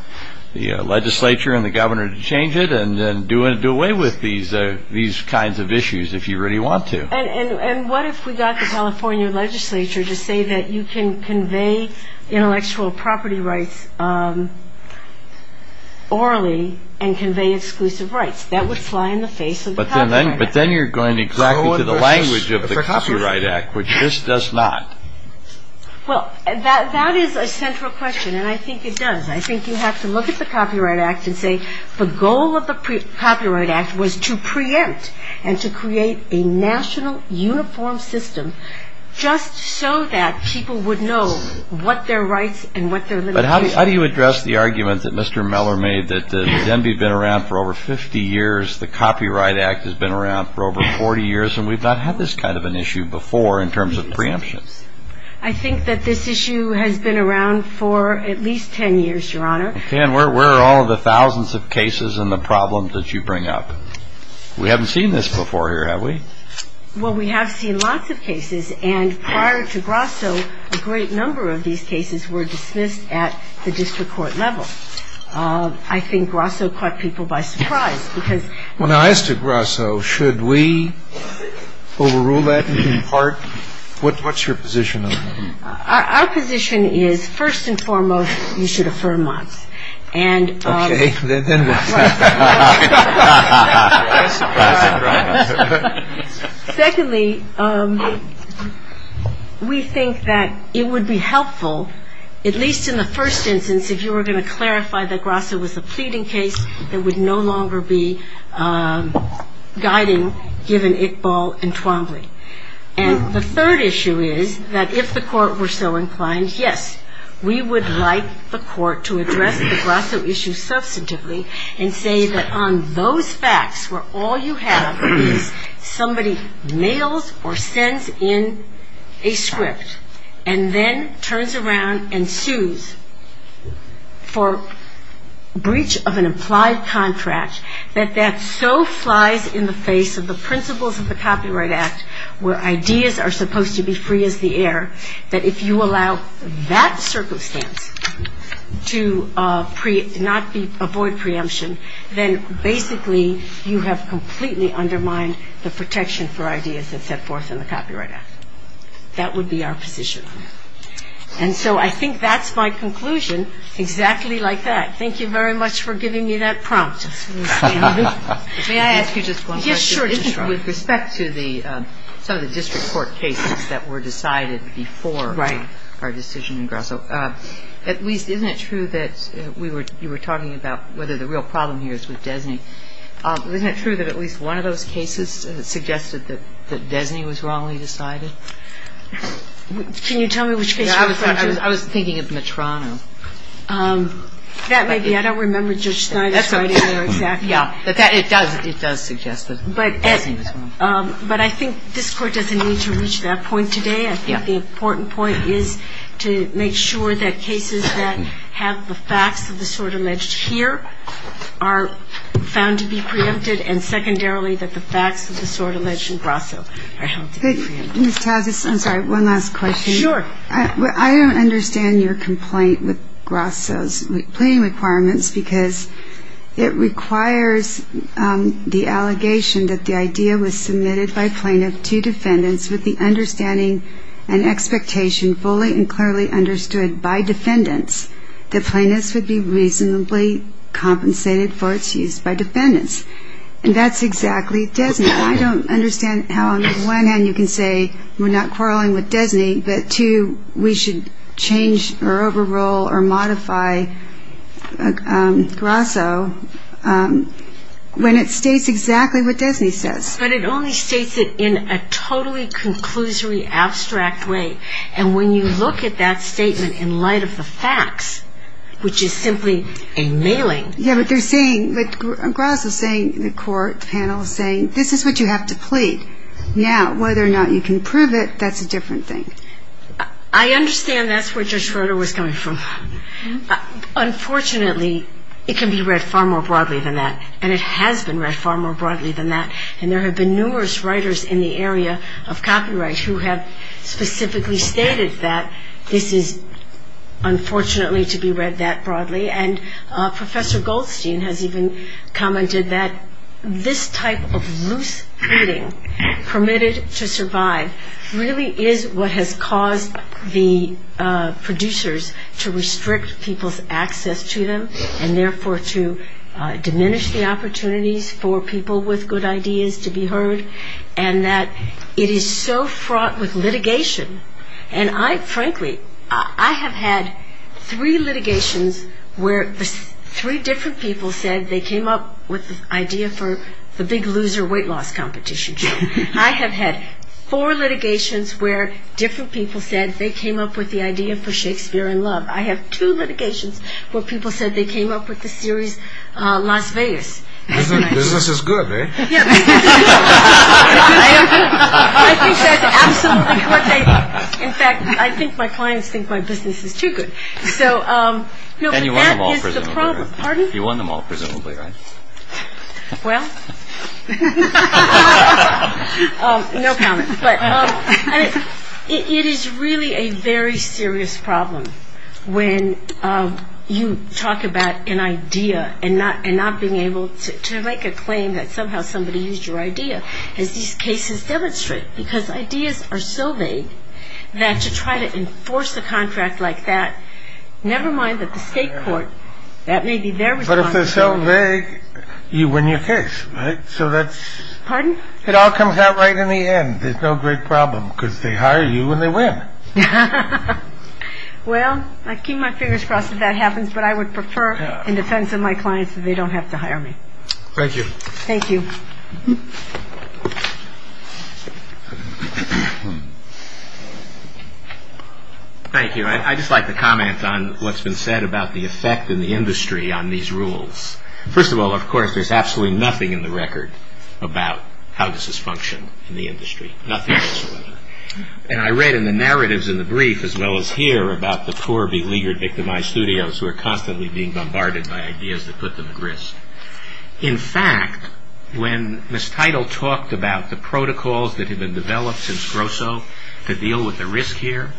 legislature and the governor to change it and do away with these kinds of issues if you really want to. And what if we got the California legislature to say that you can convey intellectual property rights orally and convey exclusive rights? That would fly in the face of the Copyright Act. But then you're going exactly to the language of the Copyright Act, which this does not. Well, that is a central question, and I think it does. I think you have to look at the Copyright Act and say the goal of the Copyright Act was to preempt and to create a national uniform system just so that people would know what their rights and what their limitations were. But how do you address the argument that Mr. Meller made that the DMV has been around for over 50 years, the Copyright Act has been around for over 40 years, and we've not had this kind of an issue before in terms of preemption? I think that this issue has been around for at least 10 years, Your Honor. Okay. And where are all of the thousands of cases and the problems that you bring up? We haven't seen this before here, have we? Well, we have seen lots of cases. And prior to Grasso, a great number of these cases were dismissed at the district court level. I think Grasso caught people by surprise. When I asked to Grasso, should we overrule that in part? What's your position on that? Our position is, first and foremost, you should affirm months. Okay. Secondly, we think that it would be helpful, at least in the first instance, if you were going to clarify that Grasso was a pleading case that would no longer be guiding given Iqbal and Twombly. And the third issue is that if the court were so inclined, yes, we would like the court to address the Grasso issue substantively and say that on those facts where all you have is somebody mails or sends in a script and then turns around and sues for breach of an implied contract, that that so flies in the face of the principles of the Copyright Act where ideas are supposed to be free as the air, that if you allow that circumstance to not avoid preemption, then basically you have completely undermined the protection for ideas that set forth in the Copyright Act. That would be our position. And so I think that's my conclusion, exactly like that. Thank you very much for giving me that prompt. May I ask you just one question? Yes, sure. With respect to some of the district court cases that were decided before our decision in Grasso, at least, isn't it true that you were talking about whether the real problem here is with Desney? Isn't it true that at least one of those cases suggested that Desney was wrongly decided? Can you tell me which case you're referring to? I was thinking of Metrano. That may be. I don't remember Judge Snyder's writing there exactly. Yeah. But it does suggest that. But I think this Court doesn't need to reach that point today. I think the important point is to make sure that cases that have the facts of the sort alleged here are found to be preempted, and secondarily that the facts of the sort alleged in Grasso are held to be preempted. Ms. Talzis, I'm sorry, one last question. Sure. I don't understand your complaint with Grasso's plea requirements because it requires the allegation that the idea was submitted by plaintiff to defendants with the understanding and expectation fully and clearly understood by defendants that plaintiffs would be reasonably compensated for its use by defendants. And that's exactly Desney. I don't understand how, on the one hand, you can say we're not quarreling with Desney, but, two, we should change or overrule or modify Grasso when it states exactly what Desney says. But it only states it in a totally conclusory, abstract way. And when you look at that statement in light of the facts, which is simply a mailing. Yeah, but Grasso is saying, the court panel is saying, this is what you have to plead. Now, whether or not you can prove it, that's a different thing. I understand that's where Judge Schroeder was coming from. Unfortunately, it can be read far more broadly than that, and it has been read far more broadly than that. And there have been numerous writers in the area of copyright who have specifically stated that this is unfortunately to be read that broadly. And Professor Goldstein has even commented that this type of loose pleading, permitted to survive, really is what has caused the producers to restrict people's access to them and, therefore, to diminish the opportunities for people with good ideas to be heard, and that it is so fraught with litigation. And I, frankly, I have had three litigations where three different people said they came up with the idea for the big loser weight loss competition show. I have had four litigations where different people said they came up with the idea for Shakespeare in Love. I have two litigations where people said they came up with the series Las Vegas. Business is good, eh? Yeah, business is good. I think that's absolutely what they, in fact, I think my clients think my business is too good. So, no, but that is the problem. And you won them all, presumably. Pardon? You won them all, presumably, right? Well, no comment. But it is really a very serious problem when you talk about an idea and not being able to make a claim that somehow somebody used your idea as these cases demonstrate because ideas are so vague that to try to enforce a contract like that, never mind that the state court, that may be their responsibility. But if they're so vague, you win your case, right? So that's... Pardon? It all comes out right in the end. There's no great problem because they hire you and they win. Well, I keep my fingers crossed that that happens, but I would prefer in defense of my clients that they don't have to hire me. Thank you. Thank you. Thank you. I'd just like to comment on what's been said about the effect in the industry on these rules. First of all, of course, there's absolutely nothing in the record about how this is functioning in the industry. Nothing at all. And I read in the narratives in the brief as well as here about the poor, beleaguered, victimized studios who are constantly being bombarded by ideas that put them at risk. In fact, when Ms. Teitel talked about the protocols that had been developed since Grosso to deal with the risk here,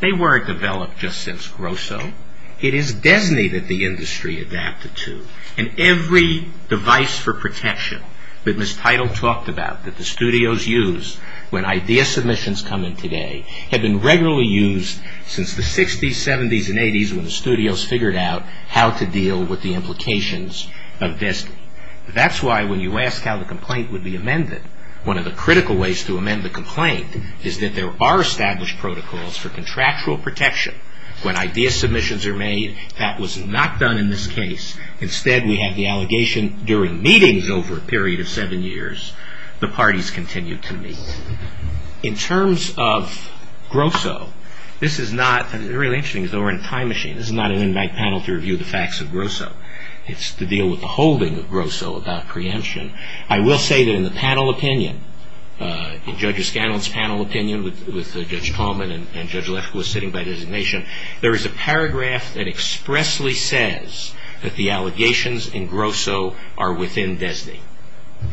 they weren't developed just since Grosso. It is DESNE that the industry adapted to. And every device for protection that Ms. Teitel talked about that the studios used when idea submissions come in today have been regularly used since the 60s, 70s, and 80s when the studios figured out how to deal with the implications of DESNE. That's why when you ask how the complaint would be amended, one of the critical ways to amend the complaint is that there are established protocols for contractual protection. When idea submissions are made, that was not done in this case. Instead, we had the allegation during meetings over a period of seven years. The parties continued to meet. In terms of Grosso, this is not an in-bank panel to review the facts of Grosso. It's to deal with the holding of Grosso about preemption. I will say that in the panel opinion, in Judge Scanlon's panel opinion, with Judge Coleman and Judge Lefkoe sitting by designation, there is a paragraph that expressly says that the allegations in Grosso are within DESNE.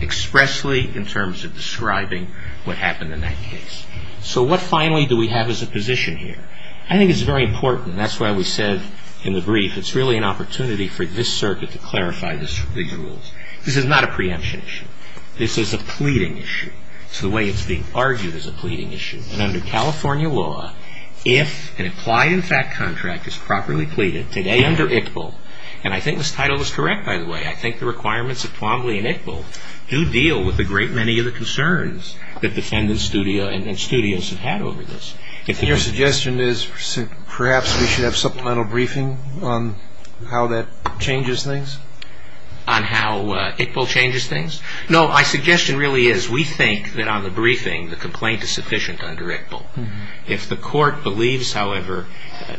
Expressly in terms of describing what happened in that case. So what finally do we have as a position here? I think it's very important, that's why we said in the brief, it's really an opportunity for this circuit to clarify these rules. This is not a preemption issue. This is a pleading issue. It's the way it's being argued as a pleading issue. And under California law, if an implied in fact contract is properly pleaded, today under ICPL, and I think this title is correct by the way, I think the requirements of Twombly and ICPL do deal with a great many of the concerns that defendants and studios have had over this. Your suggestion is perhaps we should have supplemental briefing on how that changes things? On how ICPL changes things? No, my suggestion really is we think that on the briefing, the complaint is sufficient under ICPL. If the court believes, however, I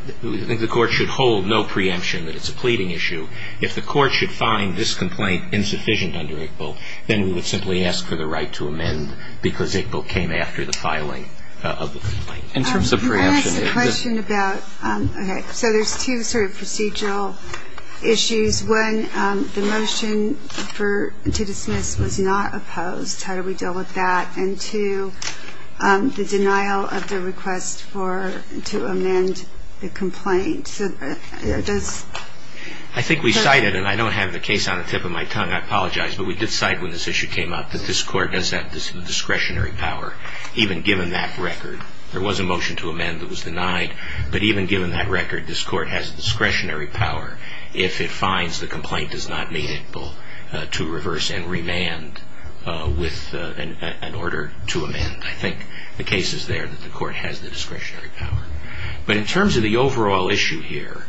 think the court should hold no preemption that it's a pleading issue. If the court should find this complaint insufficient under ICPL, then we would simply ask for the right to amend because ICPL came after the filing of the complaint. In terms of preemption. Can I ask a question about, okay, so there's two sort of procedural issues. One, the motion to dismiss was not opposed. How do we deal with that? And two, the denial of the request to amend the complaint. I think we cited, and I don't have the case on the tip of my tongue, I apologize, but we did cite when this issue came up that this court does have discretionary power, even given that record. There was a motion to amend that was denied, but even given that record, this court has discretionary power. If it finds the complaint does not meet ICPL to reverse and remand with an order to amend, I think the case is there that the court has the discretionary power. But in terms of the overall issue here,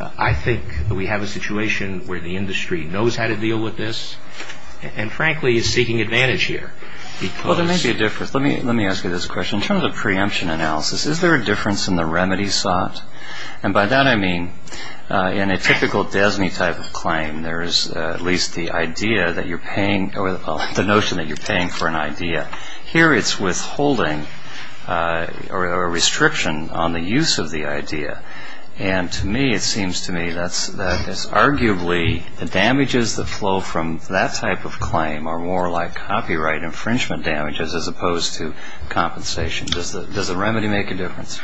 I think that we have a situation where the industry knows how to deal with this and, frankly, is seeking advantage here. Well, there may be a difference. Let me ask you this question. In terms of preemption analysis, is there a difference in the remedy sought? And by that I mean in a typical DESNY type of claim, there is at least the notion that you're paying for an idea. Here it's withholding or a restriction on the use of the idea. And to me, it seems to me that is arguably the damages that flow from that type of claim are more like copyright infringement damages as opposed to compensation. Does the remedy make a difference?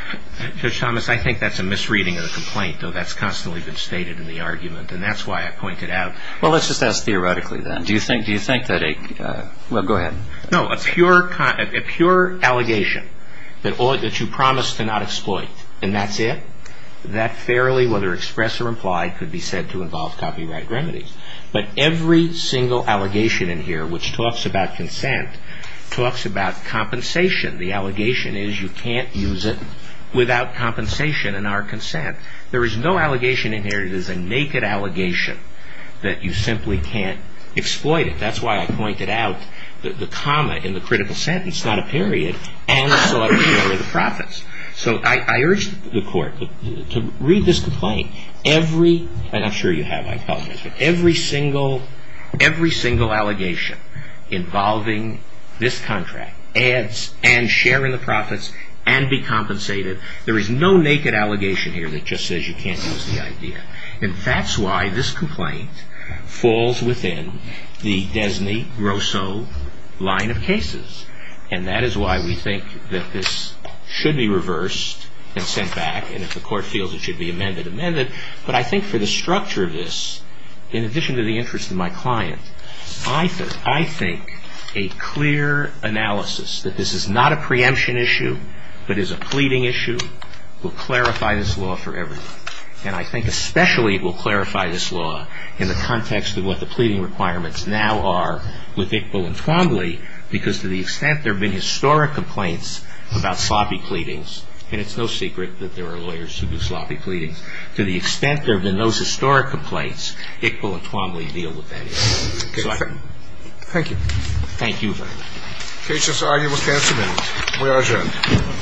Judge Thomas, I think that's a misreading of the complaint, though that's constantly been stated in the argument, and that's why I pointed out. Well, let's just ask theoretically then. Do you think that a go ahead. No, a pure allegation that you promise to not exploit, and that's it? That fairly, whether expressed or implied, could be said to involve copyright remedies. But every single allegation in here which talks about consent talks about compensation. The allegation is you can't use it without compensation and our consent. There is no allegation in here that is a naked allegation that you simply can't exploit it. That's why I pointed out the comma in the critical sentence, not a period, and so I didn't worry the profits. So I urge the court to read this complaint every, and I'm sure you have, I apologize, but every single allegation involving this contract adds and share in the profits and be compensated, there is no naked allegation here that just says you can't use the idea. And that's why this complaint falls within the Desney-Grosseau line of cases, and that is why we think that this should be reversed and sent back, and if the court feels it should be amended, amended. But I think for the structure of this, in addition to the interest of my client, I think a clear analysis that this is not a preemption issue but is a pleading issue will clarify this law for everyone. And I think especially it will clarify this law in the context of what the pleading requirements now are with Iqbal and Twombly, because to the extent there have been historic complaints about sloppy pleadings, and it's no secret that there are lawyers who do sloppy pleadings, to the extent there have been those historic complaints, Iqbal and Twombly deal with that issue. So I think. Thank you. Thank you very much. The case is arguably canceled and we are adjourned.